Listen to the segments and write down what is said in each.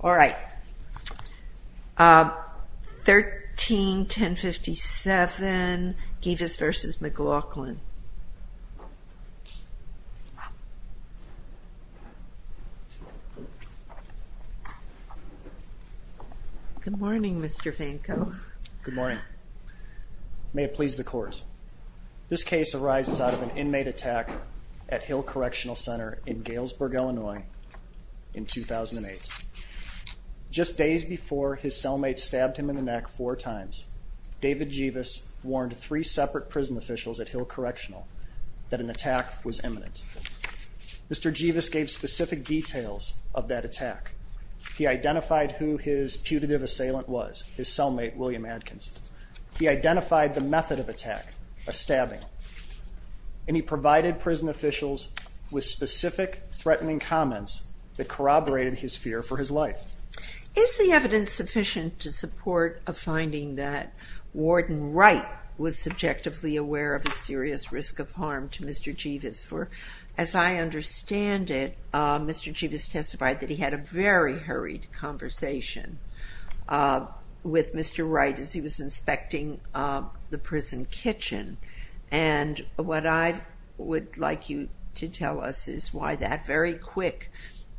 All right, 13-1057, Gevas v. McLaughlin. Good morning, Mr. Vanko. Good morning. May it please the court. This case arises out of an inmate attack at Hill Correctional Center in Galesburg, Illinois in 2008. Just days before his cellmate stabbed him in the neck four times, David Gevas warned three separate prison officials at Hill Correctional that an attack was imminent. Mr. Gevas gave specific details of that attack. He identified who his putative assailant was, his cellmate, William Adkins. He identified the method of attack, a stabbing, and he provided prison officials with specific threatening comments that corroborated his fear for his life. Is the evidence sufficient to support a finding that Warden Wright was subjectively aware of a serious risk of harm to Mr. Gevas? For as I understand it, Mr. Gevas testified that he had a very hurried conversation with Mr. Wright as he was inspecting the prison kitchen. And what I would like you to tell us is why that very quick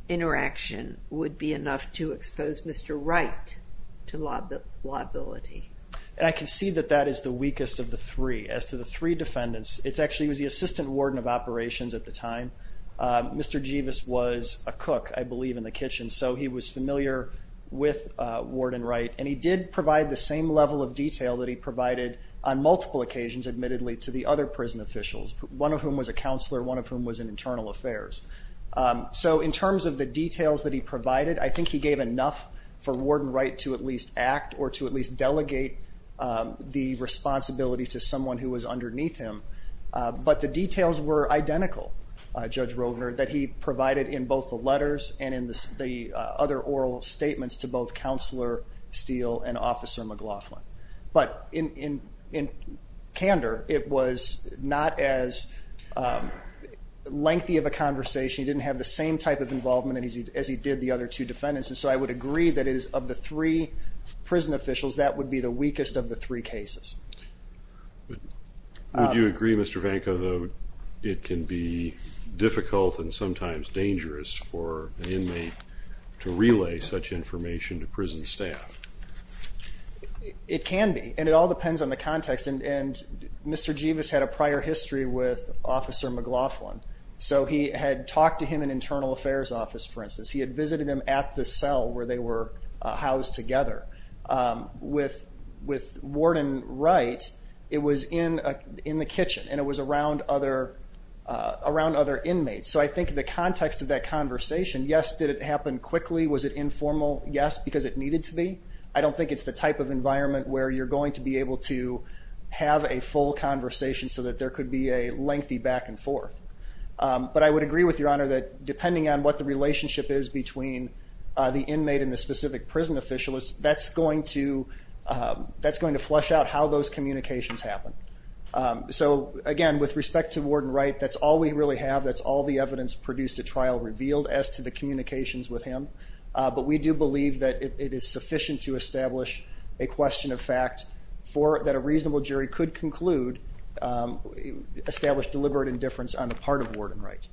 interaction would be enough to expose Mr. Wright to liability. And I can see that that is the weakest of the three. As to the three defendants, it actually was the assistant warden of operations at the time. Mr. Gevas was a cook, I believe, in the kitchen, so he was familiar with Warden Wright. And he did provide the same level of detail that he provided on multiple occasions, admittedly, to the other prison officials, one of whom was a counselor, one of whom was in internal affairs. So in terms of the details that he provided, I think he gave enough for Warden Wright to at least act or to at least delegate the responsibility to someone who was underneath him. But the details were identical, Judge Rogner, that he provided in both the letters and in the other oral statements to both Counselor Steele and Officer McLaughlin. But in candor, it was not as lengthy of a conversation. He didn't have the same type of involvement as he did the other two defendants. And so I would agree that of the three prison officials, that would be the weakest of the three cases. Would you agree, Mr. Vanko, though, it can be difficult and sometimes dangerous for an inmate to relay such information to prison staff? It can be, and it all depends on the context. And Mr. Gevas had a prior history with Officer McLaughlin, so he had talked to him in internal affairs office, for instance. He had visited him at the cell where they were housed together. With Warden Wright, it was in the kitchen and it was around other inmates. So I think the context of that conversation, yes, did it happen quickly? Was it informal? Yes, because it needed to be. I don't think it's the type of environment where you're going to be able to have a full conversation so that there could be a lengthy back and forth. But I would agree with Your Honor that depending on what the relationship is between the inmate and the specific prison official, that's going to flush out how those communications happen. So again, with respect to Warden Wright, that's all we really have. That's all the evidence produced at trial revealed as to the communications with him. But we do believe that it is sufficient to establish a question of fact that a reasonable jury could conclude, establish deliberate indifference on the part of Warden Wright.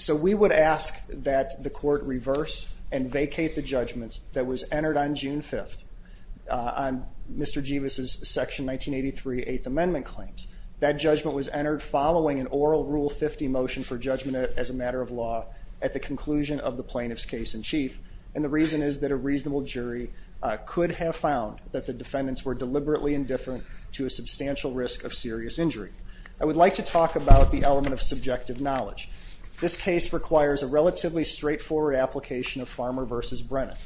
So we would ask that the court reverse and vacate the judgment that was entered on June 5th on Mr. Gevas' Section 1983 Eighth Amendment claims. That judgment was entered following an oral Rule 50 motion for judgment as a matter of law at the conclusion of the plaintiff's case in chief. And the reason is that a reasonable jury could have found that the defendants were deliberately indifferent to a substantial risk of serious injury. I would like to talk about the element of subjective knowledge. This case requires a relatively straightforward application of Farmer v. Brennan,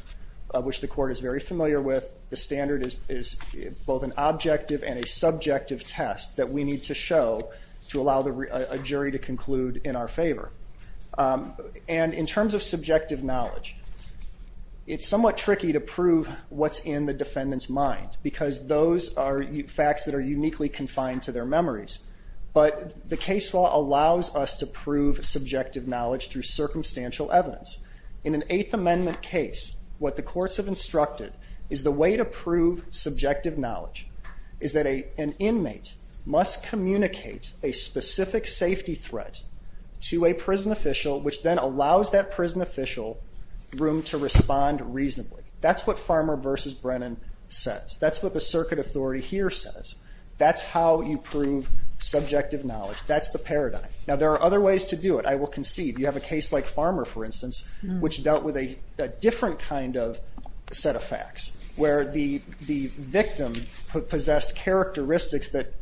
which the court is very familiar with. The standard is both an objective and a subjective test that we need to show to allow a jury to conclude in our favor. And in terms of subjective knowledge, it's somewhat tricky to prove what's in the defendant's mind, because those are facts that are uniquely confined to their memories. But the case law allows us to prove subjective knowledge through circumstantial evidence. In an Eighth Amendment case, what the courts have instructed is the way to prove subjective knowledge is that an inmate must communicate a specific safety threat to a prison official, which then allows that prison official room to respond reasonably. That's what Farmer v. Brennan says. That's what the circuit authority here says. That's how you prove subjective knowledge. That's the paradigm. Now, there are other ways to do it. I will concede. You have a case like Farmer, for instance, which dealt with a different kind of set of facts, where the victim possessed characteristics that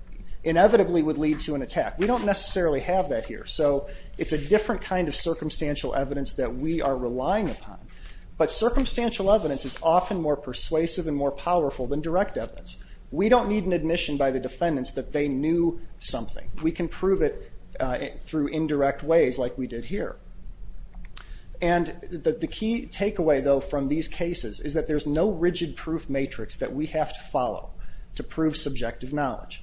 inevitably would lead to an attack. We don't necessarily have that here. So it's a different kind of circumstantial evidence that we are relying upon. But circumstantial evidence is often more persuasive and more powerful than direct evidence. We don't need an admission by the defendants that they knew something. We can prove it through indirect ways like we did here. The key takeaway, though, from these cases is that there's no rigid proof matrix that we have to follow to prove subjective knowledge.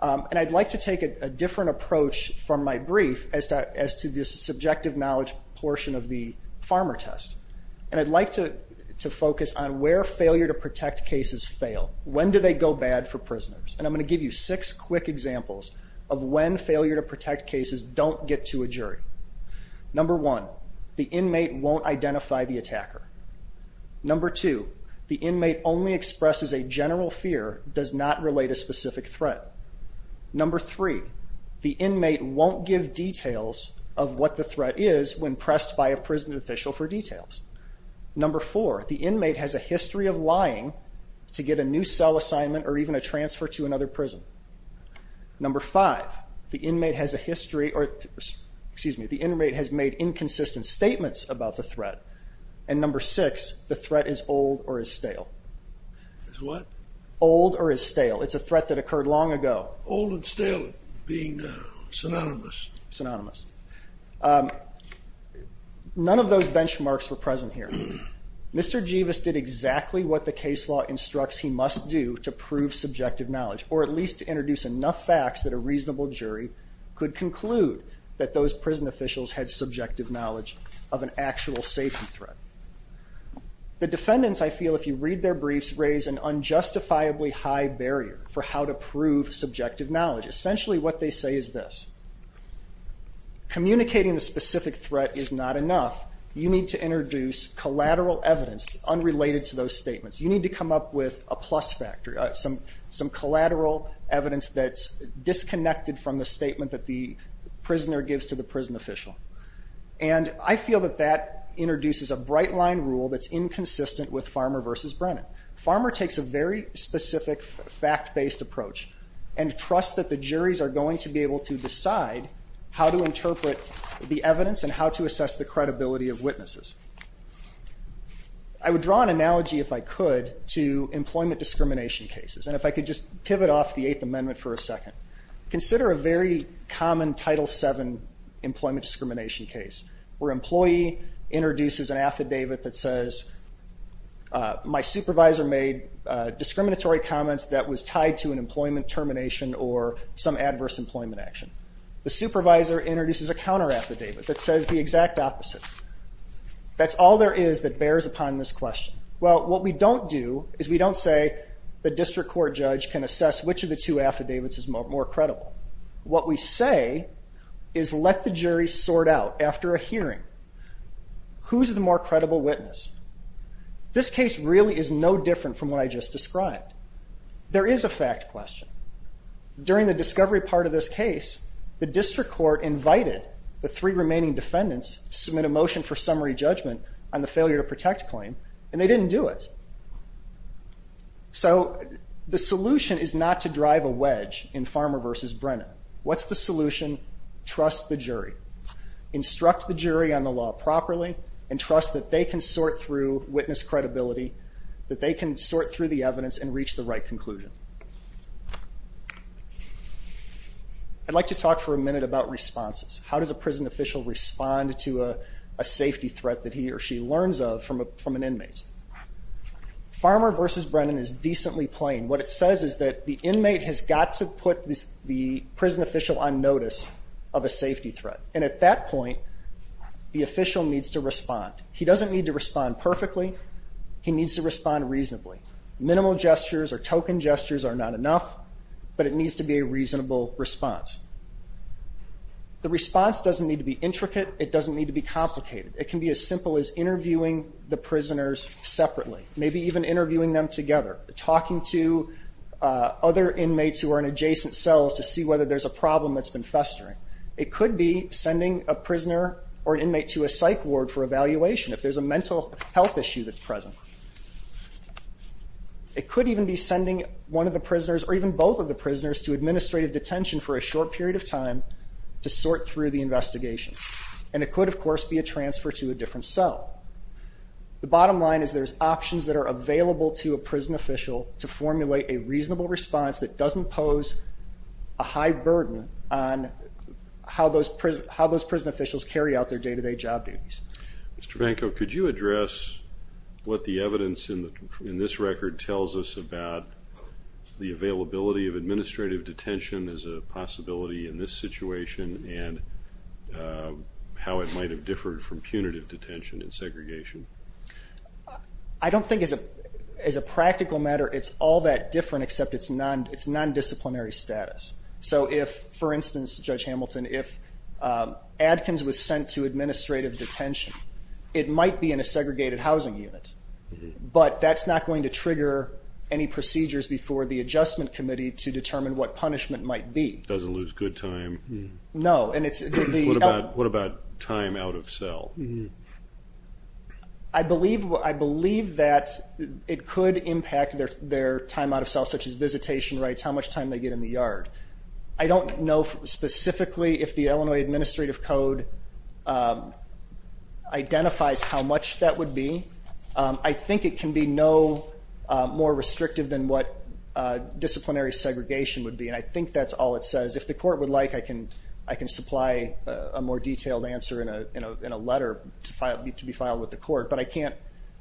I'd like to take a different approach from my brief as to the subjective knowledge portion of the Farmer test. I'd like to focus on where failure to protect cases fail. When do they go bad for prisoners? And I'm going to give you six quick examples of when failure to protect cases don't get to a jury. Number one, the inmate won't identify the attacker. Number two, the inmate only expresses a general fear, does not relate a specific threat. Number three, the inmate won't give details of what the threat is when pressed by a prison official for details. Number four, the inmate has a history of lying to get a new cell assignment or even a transfer to another prison. Number five, the inmate has a history or, excuse me, the inmate has made inconsistent statements about the threat. And number six, the threat is old or is stale. Is what? Old or is stale. It's a threat that occurred long ago. Old and stale being synonymous. Synonymous. None of those benchmarks were present here. Mr. Jeevus did exactly what the case law instructs he must do to prove subjective knowledge, or at least to introduce enough facts that a reasonable jury could conclude that those prison officials had subjective knowledge of an actual safety threat. The defendants, I feel, if you read their briefs, raise an unjustifiably high barrier for how to prove subjective knowledge. Essentially what they say is this. Communicating the specific threat is not enough. You need to introduce collateral evidence unrelated to those statements. You need to come up with a plus factor, some collateral evidence that's disconnected from the statement that the prisoner gives to the prison official. And I feel that that introduces a bright line rule that's inconsistent with Farmer v. Brennan. Farmer takes a very specific fact-based approach and trusts that the juries are going to be able to decide how to interpret the evidence and how to assess the credibility of witnesses. I would draw an analogy if I could to employment discrimination cases. And if I could just pivot off the Eighth Amendment for a second. Consider a very common Title VII employment discrimination case where an employee introduces an affidavit that says, my supervisor made discriminatory comments that was tied to an employment termination or some adverse employment action. The supervisor introduces a counter affidavit that says the exact opposite. That's all there is that bears upon this question. Well, what we don't do is we don't say the district court judge can assess which of the two affidavits is more credible. What we say is let the jury sort out after a hearing. Who's the more credible witness? This case really is no different from what I just described. There is a fact question. During the discovery part of this case, the district court invited the three remaining defendants to submit a motion for summary judgment on the failure to protect claim, and they didn't do it. So the solution is not to drive a wedge in Farmer v. Brennan. What's the solution? Trust the jury. Instruct the jury on the law properly and trust that they can sort through witness credibility, that they can sort through the evidence and reach the right conclusion. I'd like to talk for a minute about responses. How does a prison official respond to a safety threat that he or she learns of from an inmate? Farmer v. Brennan is decently plain. What it says is that the inmate has got to put the prison official on notice of a safety threat, and at that point, the official needs to respond. He doesn't need to respond perfectly. He needs to respond reasonably. Minimal gestures or token gestures are not enough, but it needs to be a reasonable response. The response doesn't need to be intricate. It doesn't need to be complicated. It can be as simple as interviewing the prisoners separately, maybe even interviewing them together, talking to other inmates who are in adjacent cells to see whether there's a problem that's been festering. It could be sending a prisoner or an inmate to a psych ward for evaluation, if there's a mental health issue that's present. It could even be sending one of the prisoners or even both of the prisoners to administrative detention for a short period of time to sort through the investigation. And it could, of course, be a transfer to a different cell. The bottom line is there's options that are available to a prison official to formulate a reasonable response that doesn't pose a high burden on how those prison officials carry out their day-to-day job duties. Mr. Vanko, could you address what the evidence in this record tells us about the availability of administrative detention as a possibility in this situation and how it might have differed from punitive detention and segregation? I don't think as a practical matter it's all that different except it's nondisciplinary status. So if, for instance, Judge Hamilton, if Adkins was sent to administrative detention, it might be in a segregated housing unit, but that's not going to trigger any procedures before the adjustment committee to determine what punishment might be. Doesn't lose good time? No. What about time out of cell? I believe that it could impact their time out of cell, such as visitation rights, how much time they get in the yard. I don't know specifically if the Illinois Administrative Code identifies how much that would be. I think it can be no more restrictive than what disciplinary segregation would be, and I think that's all it says. If the court would like, I can supply a more detailed answer in a letter to be filed with the court, but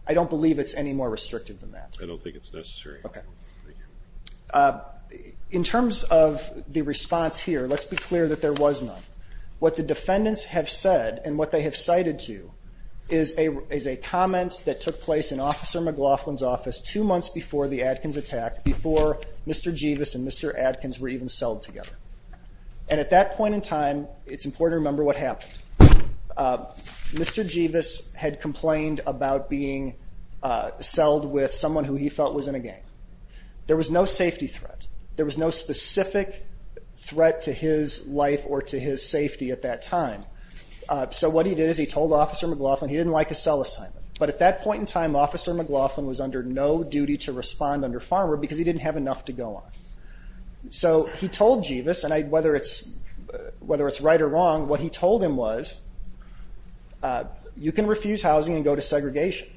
I don't believe it's any more restrictive than that. I don't think it's necessary. Okay. In terms of the response here, let's be clear that there was none. What the defendants have said and what they have cited to you is a comment that took place in Officer McLaughlin's office two months before the Adkins attack, before Mr. Jeevus and Mr. Adkins were even celled together. And at that point in time, it's important to remember what happened. Mr. Jeevus had complained about being celled with someone who he felt was in a game. There was no safety threat. There was no specific threat to his life or to his safety at that time. So what he did is he told Officer McLaughlin he didn't like a cell assignment, but at that point in time, Officer McLaughlin was under no duty to respond under farmer because he didn't have enough to go on. So he told Jeevus, and whether it's right or wrong, what he told him was, you can refuse housing and go to segregation.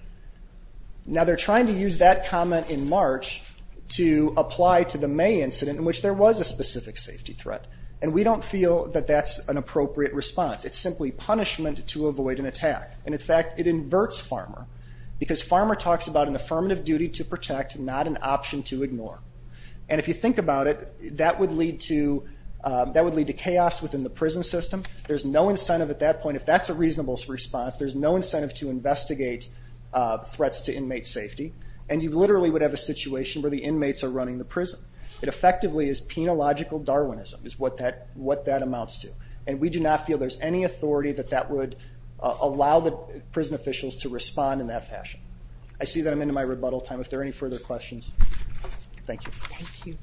Now, they're trying to use that comment in March to apply to the May incident in which there was a specific safety threat, and we don't feel that that's an appropriate response. It's simply punishment to avoid an attack. And, in fact, it inverts farmer because farmer talks about an affirmative duty to protect, not an option to ignore. And if you think about it, that would lead to chaos within the prison system. There's no incentive at that point. If that's a reasonable response, there's no incentive to investigate threats to inmate safety, and you literally would have a situation where the inmates are running the prison. It effectively is penological Darwinism is what that amounts to, and we do not feel there's any authority that that would allow the prison officials to respond in that fashion. I see that I'm into my rebuttal time. If there are any further questions, thank you. Thank you.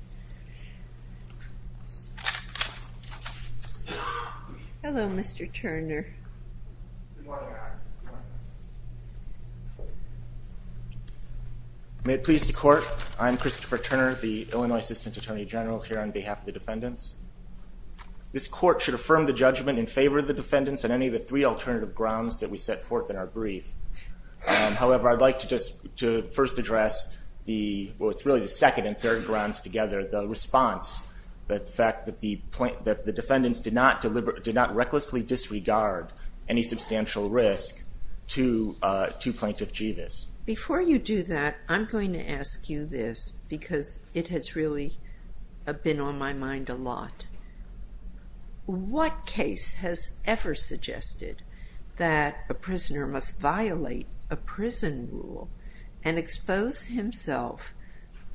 Hello, Mr. Turner. May it please the court. I'm Christopher Turner, the Illinois Assistant Attorney General here on behalf of the defendants. This court should affirm the judgment in favor of the defendants on any of the three alternative grounds that we set forth in our brief. However, I'd like to first address the, well, it's really the second and third grounds together, the response that the defendants did not recklessly disregard any substantial risk to Plaintiff Jeevis. Before you do that, I'm going to ask you this, because it has really been on my mind a lot. What case has ever suggested that a prisoner must violate a prison rule and expose himself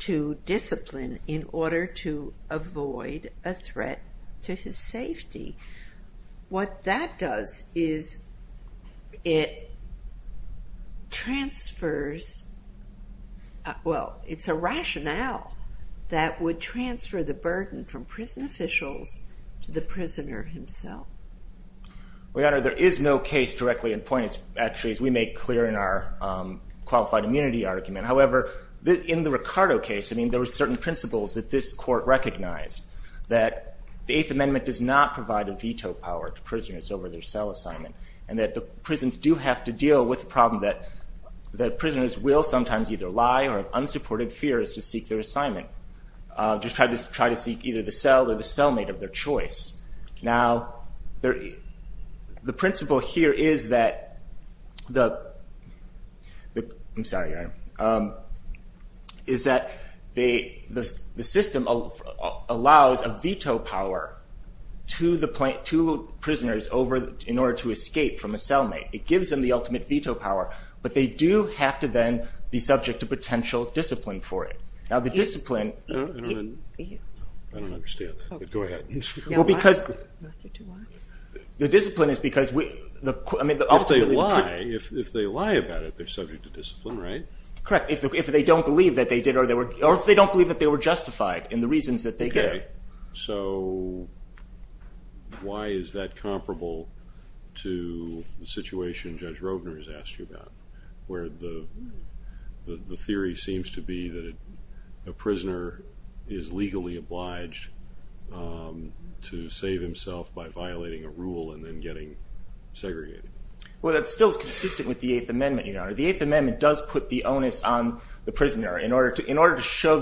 to discipline in order to avoid a threat to his safety? What that does is it transfers, well, it's a rationale that would transfer the burden from prison officials to the prisoner himself. Well, Your Honor, there is no case directly in point, actually, as we make clear in our qualified immunity argument. However, in the Ricardo case, I mean, there were certain principles that this court recognized, that the Eighth Amendment does not provide a veto power to prisoners over their cell assignment, and that the prisons do have to deal with the problem that prisoners will sometimes either lie or have unsupported fears to seek their assignment. Just try to seek either the cell or the cellmate of their choice. Now, the principle here is that the system allows a veto power to prisoners in order to escape from a cellmate. It gives them the ultimate veto power, but they do have to then be subject to potential discipline for it. Now, the discipline... I don't understand that, but go ahead. Well, because... The discipline is because... If they lie, if they lie about it, they're subject to discipline, right? Correct. If they don't believe that they did or they were, or if they don't believe that they were justified in the reasons that they did. Okay, so why is that comparable to the situation Judge Roedner has asked you about, where the theory seems to be that a prisoner is legally obliged to save himself by violating a rule and then getting segregated? Well, that still is consistent with the Eighth Amendment, Your Honor. The Eighth Amendment does put the onus on the prisoner in order to show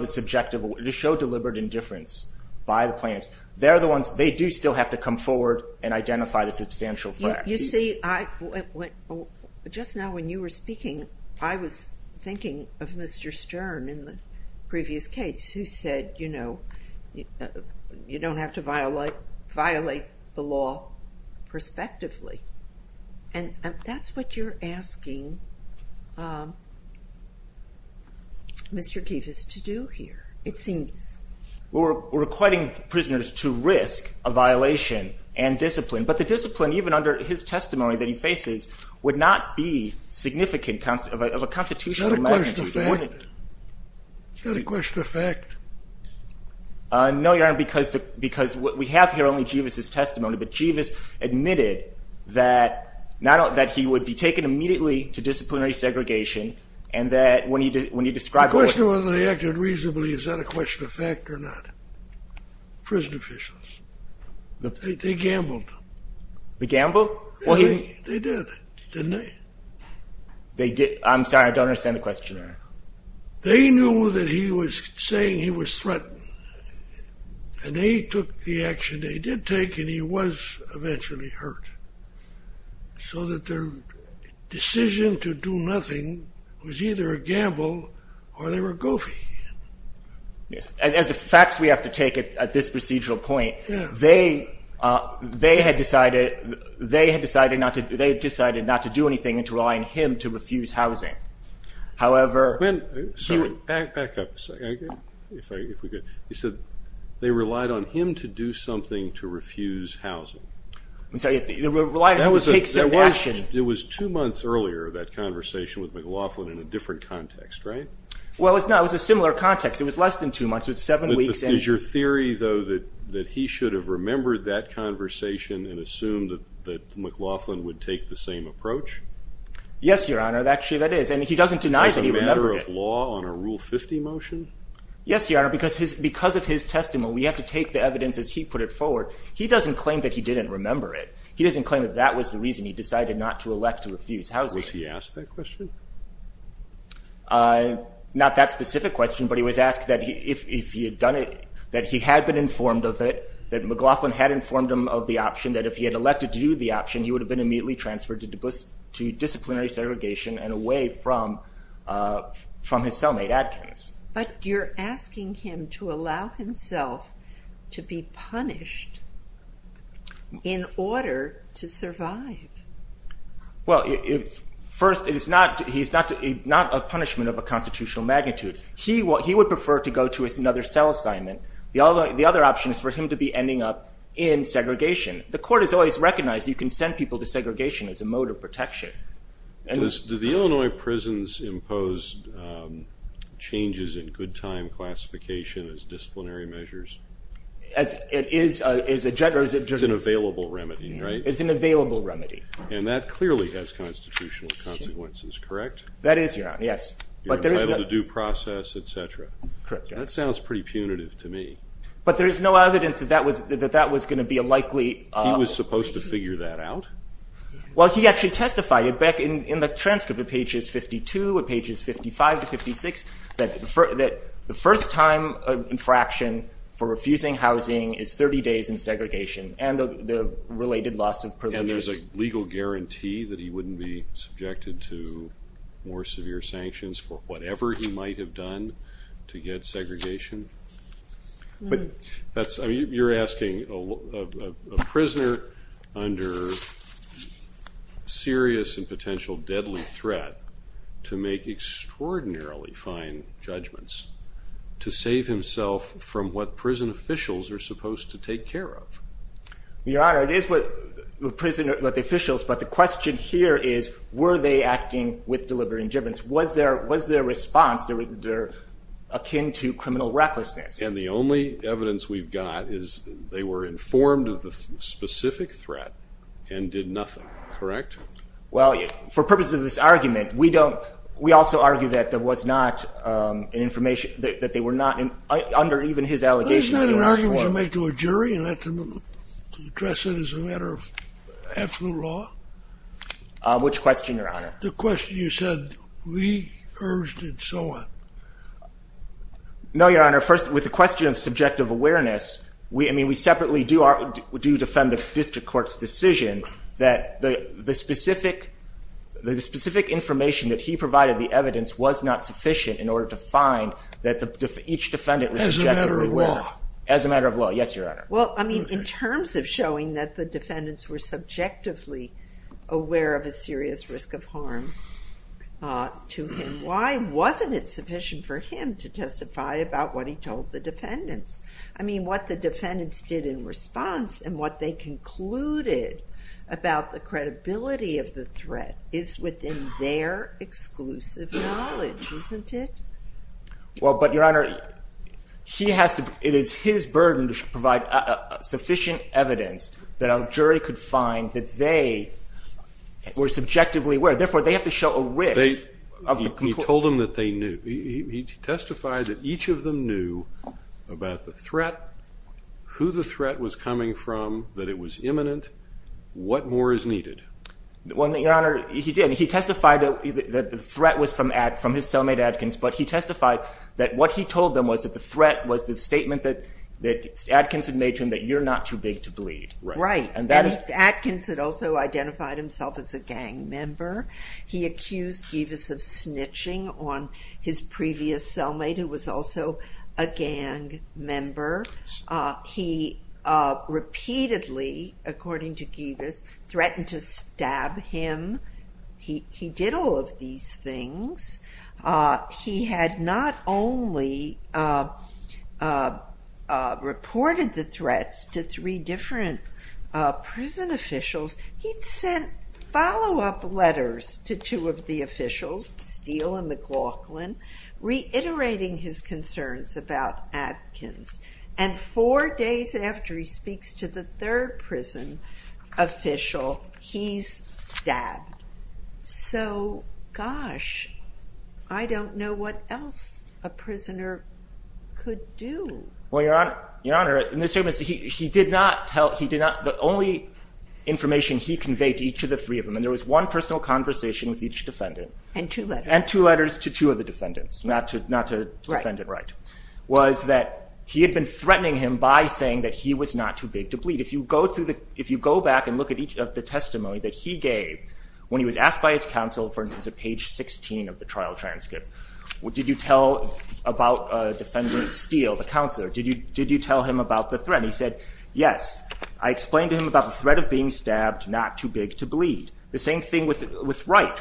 deliberate indifference by the plaintiffs. They're the ones... They do still have to come forward and identify the substantial threat. You see, just now when you were speaking, I was thinking of Mr. Stern in the previous case who said, you know, you don't have to violate the law prospectively. And that's what you're asking Mr. Gevis to do here, it seems. We're requiring prisoners to risk a violation and discipline, but the discipline, even under his testimony that he faces, would not be significant of a constitutional measure. Is that a question of fact? Is that a question of fact? No, Your Honor, because we have here only Gevis' testimony, but Gevis admitted that he would be taken immediately to disciplinary segregation, and that when he described... The question wasn't that he acted reasonably, is that a question of fact or not? Prison officials. They gambled. They gambled? They did, didn't they? They knew that he was saying he was threatened, and they took the action they did take, and he was eventually hurt, so that their decision to do nothing was either a gamble or they were goofy. As the facts we have to take at this procedural point, they had decided not to do anything and to rely on him to refuse housing. Back up a second. He said they relied on him to do something to refuse housing. It was two months earlier, that conversation with McLaughlin, in a different context, right? Well, it was a similar context. It was less than two months. It was seven weeks. Is your theory, though, that he should have remembered that conversation and assumed that McLaughlin would take the same approach? Yes, Your Honor, actually that is, and he doesn't deny that he remembered it. As a matter of law, on a Rule 50 motion? Yes, Your Honor, because of his testimony, we have to take the evidence as he put it forward. He doesn't claim that he didn't remember it. He doesn't claim that that was the reason he decided not to elect to refuse housing. Was he asked that question? Not that specific question, but he was asked that if he had done it, that he had been informed of it, that McLaughlin had informed him of the option, that if he had elected to do the option, he would have been immediately transferred to disciplinary segregation and away from his cellmate adjuncts. But you're asking him to allow himself to be punished in order to survive. Well, first, he's not a punishment of a constitutional magnitude. He would prefer to go to another cell assignment. The other option is for him to be ending up in segregation. The court has always recognized you can send people to segregation as a mode of protection. Do the Illinois prisons impose changes in good time classification as disciplinary measures? It's an available remedy, right? It's an available remedy. And that clearly has constitutional consequences, correct? That is, Your Honor, yes. You're entitled to due process, et cetera. Correct. That sounds pretty punitive to me. But there is no evidence that that was going to be a likely- He was supposed to figure that out? Well, he actually testified back in the transcript at pages 52, pages 55 to 56, that the first time of infraction for refusing housing is 30 days in segregation and the related loss of privileges. And there's a legal guarantee that he wouldn't be subjected to more severe sanctions for whatever he might have done to get segregation. You're asking a prisoner under serious and potential deadly threat to make extraordinarily fine judgments to save himself from what prison officials are supposed to take care of. Your Honor, it is what the officials, but the question here is, were they acting with deliberate interventions? Was their response akin to criminal recklessness? And the only evidence we've got is they were informed of the specific threat and did nothing. Correct? Well, for purposes of this argument, we also argue that there was not an information- that they were not, under even his allegations- That is not an argument you make to a jury and let them address it as a matter of absolute law. Which question, Your Honor? The question you said, we urged and so on. No, Your Honor. First, with the question of subjective awareness, I mean, we separately do defend the district court's decision that the specific information that he provided, the evidence, was not sufficient in order to find that each defendant was subjectively aware. As a matter of law. As a matter of law. Yes, Your Honor. Well, I mean, in terms of showing that the defendants were subjectively aware of a serious risk of harm to him, why wasn't it sufficient for him to testify about what he told the defendants? I mean, what the defendants did in response and what they concluded about the credibility of the threat is within their exclusive knowledge, isn't it? Well, but, Your Honor, it is his burden to provide sufficient evidence that a jury could find that they were subjectively aware. Therefore, they have to show a risk- He told them that they knew. He testified that each of them knew about the threat, who the threat was coming from, that it was imminent, what more is needed. Well, Your Honor, he did. He testified that the threat was from his cellmate Adkins, but he testified that what he told them was that the threat was the statement that Adkins had made to him that you're not too big to bleed. Right, and Adkins had also identified himself as a gang member. He accused Givas of snitching on his previous cellmate, who was also a gang member. He repeatedly, according to Givas, threatened to stab him. He did all of these things. He had not only reported the threats to three different prison officials, he'd sent follow-up letters to two of the officials, Steele and McLaughlin, reiterating his concerns about Adkins. And four days after he speaks to the third prison official, he's stabbed. So, gosh, I don't know what else a prisoner could do. Well, Your Honor, he did not tell- the only information he conveyed to each of the three of them, and there was one personal conversation with each defendant- And two letters. And two letters to two of the defendants, not to defendant Wright, was that he had been threatening him by saying that he was not too big to bleed. If you go back and look at each of the testimony that he gave, when he was asked by his counsel, for instance, at page 16 of the trial transcript, did you tell about Defendant Steele, the counselor, did you tell him about the threat? And he said, yes. I explained to him about the threat of being stabbed, not too big to bleed. The same thing with Wright,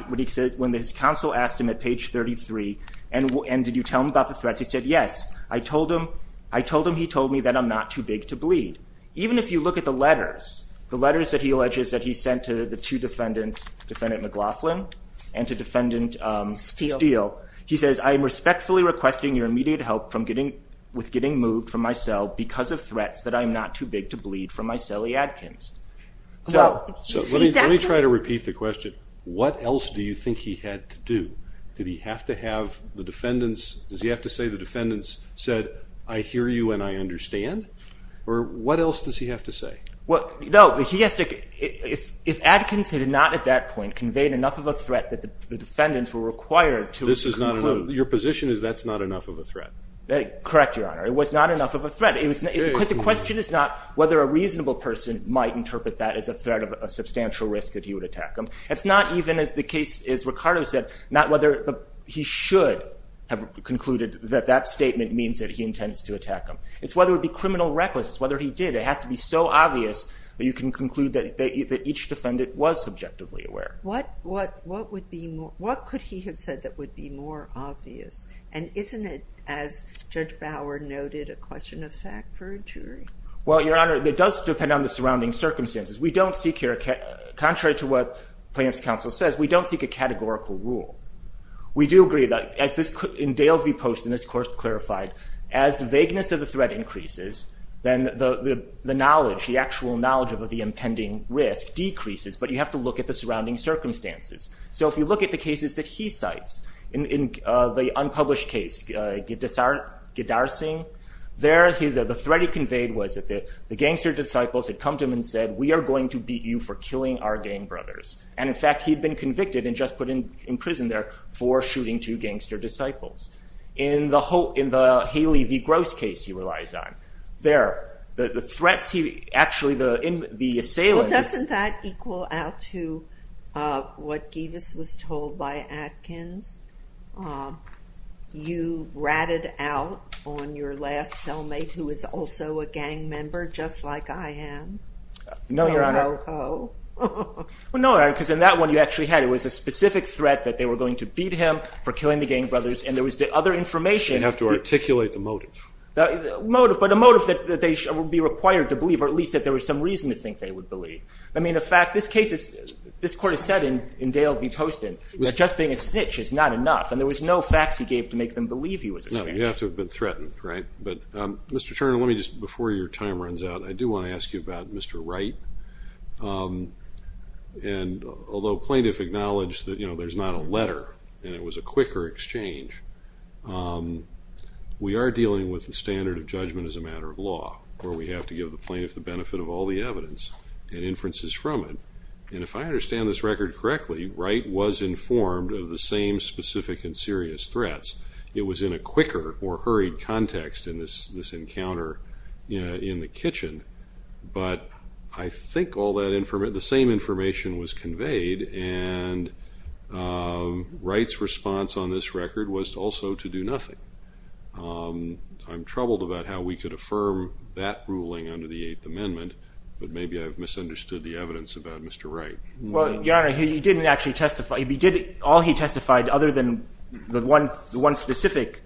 when his counsel asked him at page 33, and did you tell him about the threats? He said, yes. I told him he told me that I'm not too big to bleed. Even if you look at the letters, the letters that he alleges that he sent to the two defendants, Defendant McLaughlin and to Defendant Steele, he says, I am respectfully requesting your immediate help with getting moved from my cell because of threats that I'm not too big to bleed from my celly adkins. So let me try to repeat the question. What else do you think he had to do? Did he have to have the defendants, does he have to say the defendants said, I hear you and I understand? Or what else does he have to say? Well, no, he has to, if Adkins had not at that point conveyed enough of a threat that the defendants were required to conclude. Your position is that's not enough of a threat. Correct, Your Honor. It was not enough of a threat. The question is not whether a reasonable person might interpret that as a threat of a substantial risk that he would attack them. It's not even as the case, as Ricardo said, not whether he should have concluded that that statement means that he intends to attack them. It's whether it would be criminal recklessness, whether he did. It has to be so obvious that you can conclude that each defendant was subjectively aware. What could he have said that would be more obvious? And isn't it, as Judge Bauer noted, a question of fact for a jury? Well, Your Honor, it does depend on the surrounding circumstances. We don't seek here, contrary to what plaintiff's counsel says, we don't seek a categorical rule. We do agree that, as Dale V. Post in this course clarified, as the vagueness of the threat increases, then the knowledge, the actual knowledge of the impending risk decreases, but you have to look at the surrounding circumstances. So if you look at the cases that he cites, the unpublished case, Gidarsing, there the threat he conveyed was that the gangster disciples had come to him and said, we are going to beat you for killing our gang brothers. And, in fact, he had been convicted and just put in prison there for shooting two gangster disciples. In the Haley v. Gross case he relies on, there, the threats he actually, the assailant. Well, doesn't that equal out to what Givas was told by Atkins? You ratted out on your last cellmate, who was also a gang member, just like I am? No, Your Honor. Oh, no. Well, no, Your Honor, because in that one you actually had, it was a specific threat that they were going to beat him for killing the gang brothers, and there was the other information. You have to articulate the motive. The motive, but a motive that they would be required to believe, or at least that there was some reason to think they would believe. I mean, in fact, this case is, this court has said in Dale V. Post, that just being a snitch is not enough, and there was no facts he gave to make them believe he was a snitch. No, you have to have been threatened, right? But, Mr. Turner, let me just, before your time runs out, I do want to ask you about Mr. Wright. And although plaintiff acknowledged that, you know, there's not a letter and it was a quicker exchange, we are dealing with the standard of judgment as a matter of law, where we have to give the plaintiff the benefit of all the evidence and inferences from it. And if I understand this record correctly, Wright was informed of the same specific and serious threats. It was in a quicker or hurried context in this encounter in the kitchen, but I think all that, the same information was conveyed, and Wright's response on this record was also to do nothing. I'm troubled about how we could affirm that ruling under the Eighth Amendment, but maybe I've misunderstood the evidence about Mr. Wright. Well, Your Honor, he didn't actually testify. All he testified, other than the one specific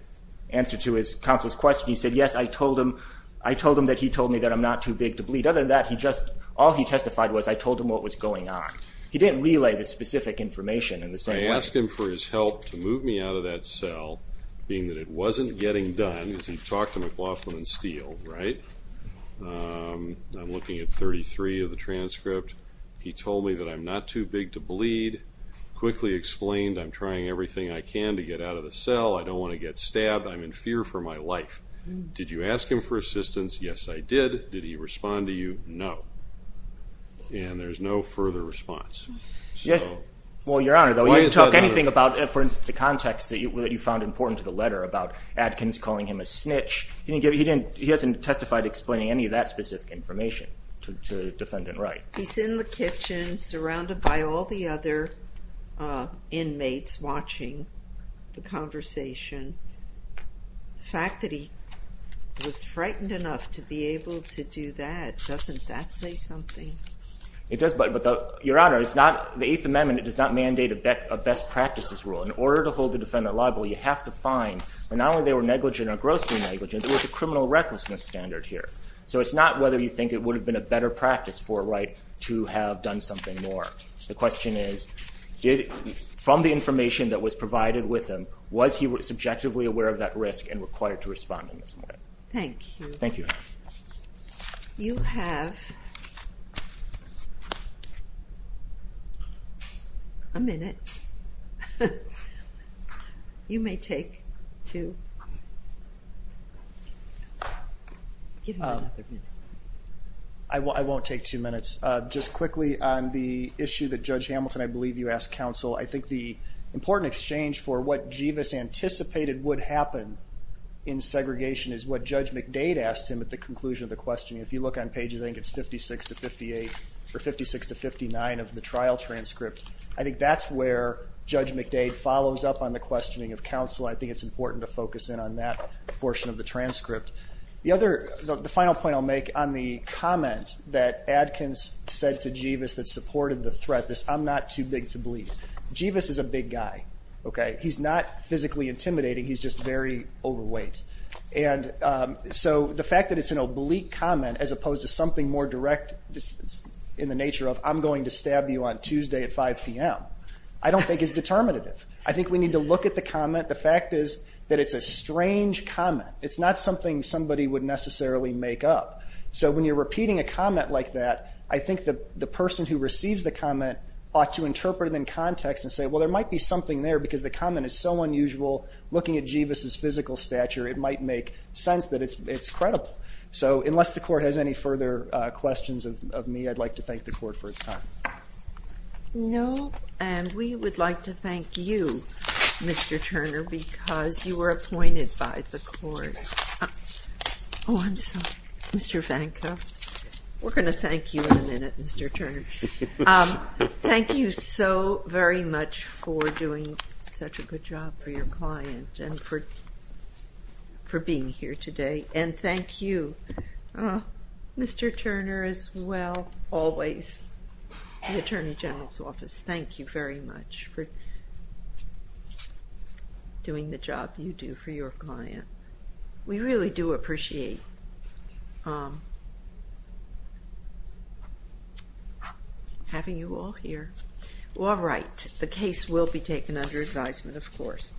answer to his counsel's question, he said, yes, I told him that he told me that I'm not too big to bleed. Other than that, all he testified was I told him what was going on. He didn't relay the specific information in the same way. I asked him for his help to move me out of that cell, being that it wasn't getting done, because he talked to McLaughlin and Steele, right? I'm looking at 33 of the transcript. He told me that I'm not too big to bleed. Quickly explained I'm trying everything I can to get out of the cell. I don't want to get stabbed. I'm in fear for my life. Did you ask him for assistance? Yes, I did. Did he respond to you? No. And there's no further response. Well, Your Honor, though, he didn't talk anything about, for instance, the context that you found important to the letter about Adkins calling him a snitch. He hasn't testified explaining any of that specific information to Defendant Wright. He's in the kitchen, surrounded by all the other inmates watching the conversation. The fact that he was frightened enough to be able to do that, doesn't that say something? It does, but Your Honor, it's not the Eighth Amendment. It does not mandate a best practices rule. In order to hold a defendant liable, you have to find, and not only they were negligent or grossly negligent, there was a criminal recklessness standard here. So it's not whether you think it would have been a better practice for Wright to have done something more. The question is, from the information that was provided with him, was he subjectively aware of that risk and required to respond in some way? Thank you. Thank you, Your Honor. You have a minute. You may take two. I won't take two minutes. Just quickly on the issue that Judge Hamilton, I believe you asked counsel, I think the important exchange for what Jivas anticipated would happen in segregation is what Judge McDade asked him at the conclusion of the question. If you look on pages, I think it's 56 to 58, or 56 to 59 of the trial transcript. I think that's where Judge McDade follows up on the questioning of counsel. I think it's important to focus in on that portion of the transcript. The final point I'll make on the comment that Adkins said to Jivas that supported the threat, this I'm not too big to bleed. Jivas is a big guy. He's not physically intimidating. He's just very overweight. And so the fact that it's an oblique comment as opposed to something more direct in the nature of I'm going to stab you on Tuesday at 5 p.m. I don't think is determinative. I think we need to look at the comment. The fact is that it's a strange comment. It's not something somebody would necessarily make up. So when you're repeating a comment like that, I think the person who receives the comment ought to interpret it in context and say, well, there might be something there because the comment is so unusual. Looking at Jivas' physical stature, it might make sense that it's credible. So unless the Court has any further questions of me, I'd like to thank the Court for its time. No, and we would like to thank you, Mr. Turner, because you were appointed by the Court. Oh, I'm sorry, Mr. Vanka. We're going to thank you in a minute, Mr. Turner. Thank you so very much for doing such a good job for your client and for being here today. And thank you, Mr. Turner, as well, always, the Attorney General's Office. Thank you very much for doing the job you do for your client. We really do appreciate having you all here. All right, the case will be taken under advisement, of course.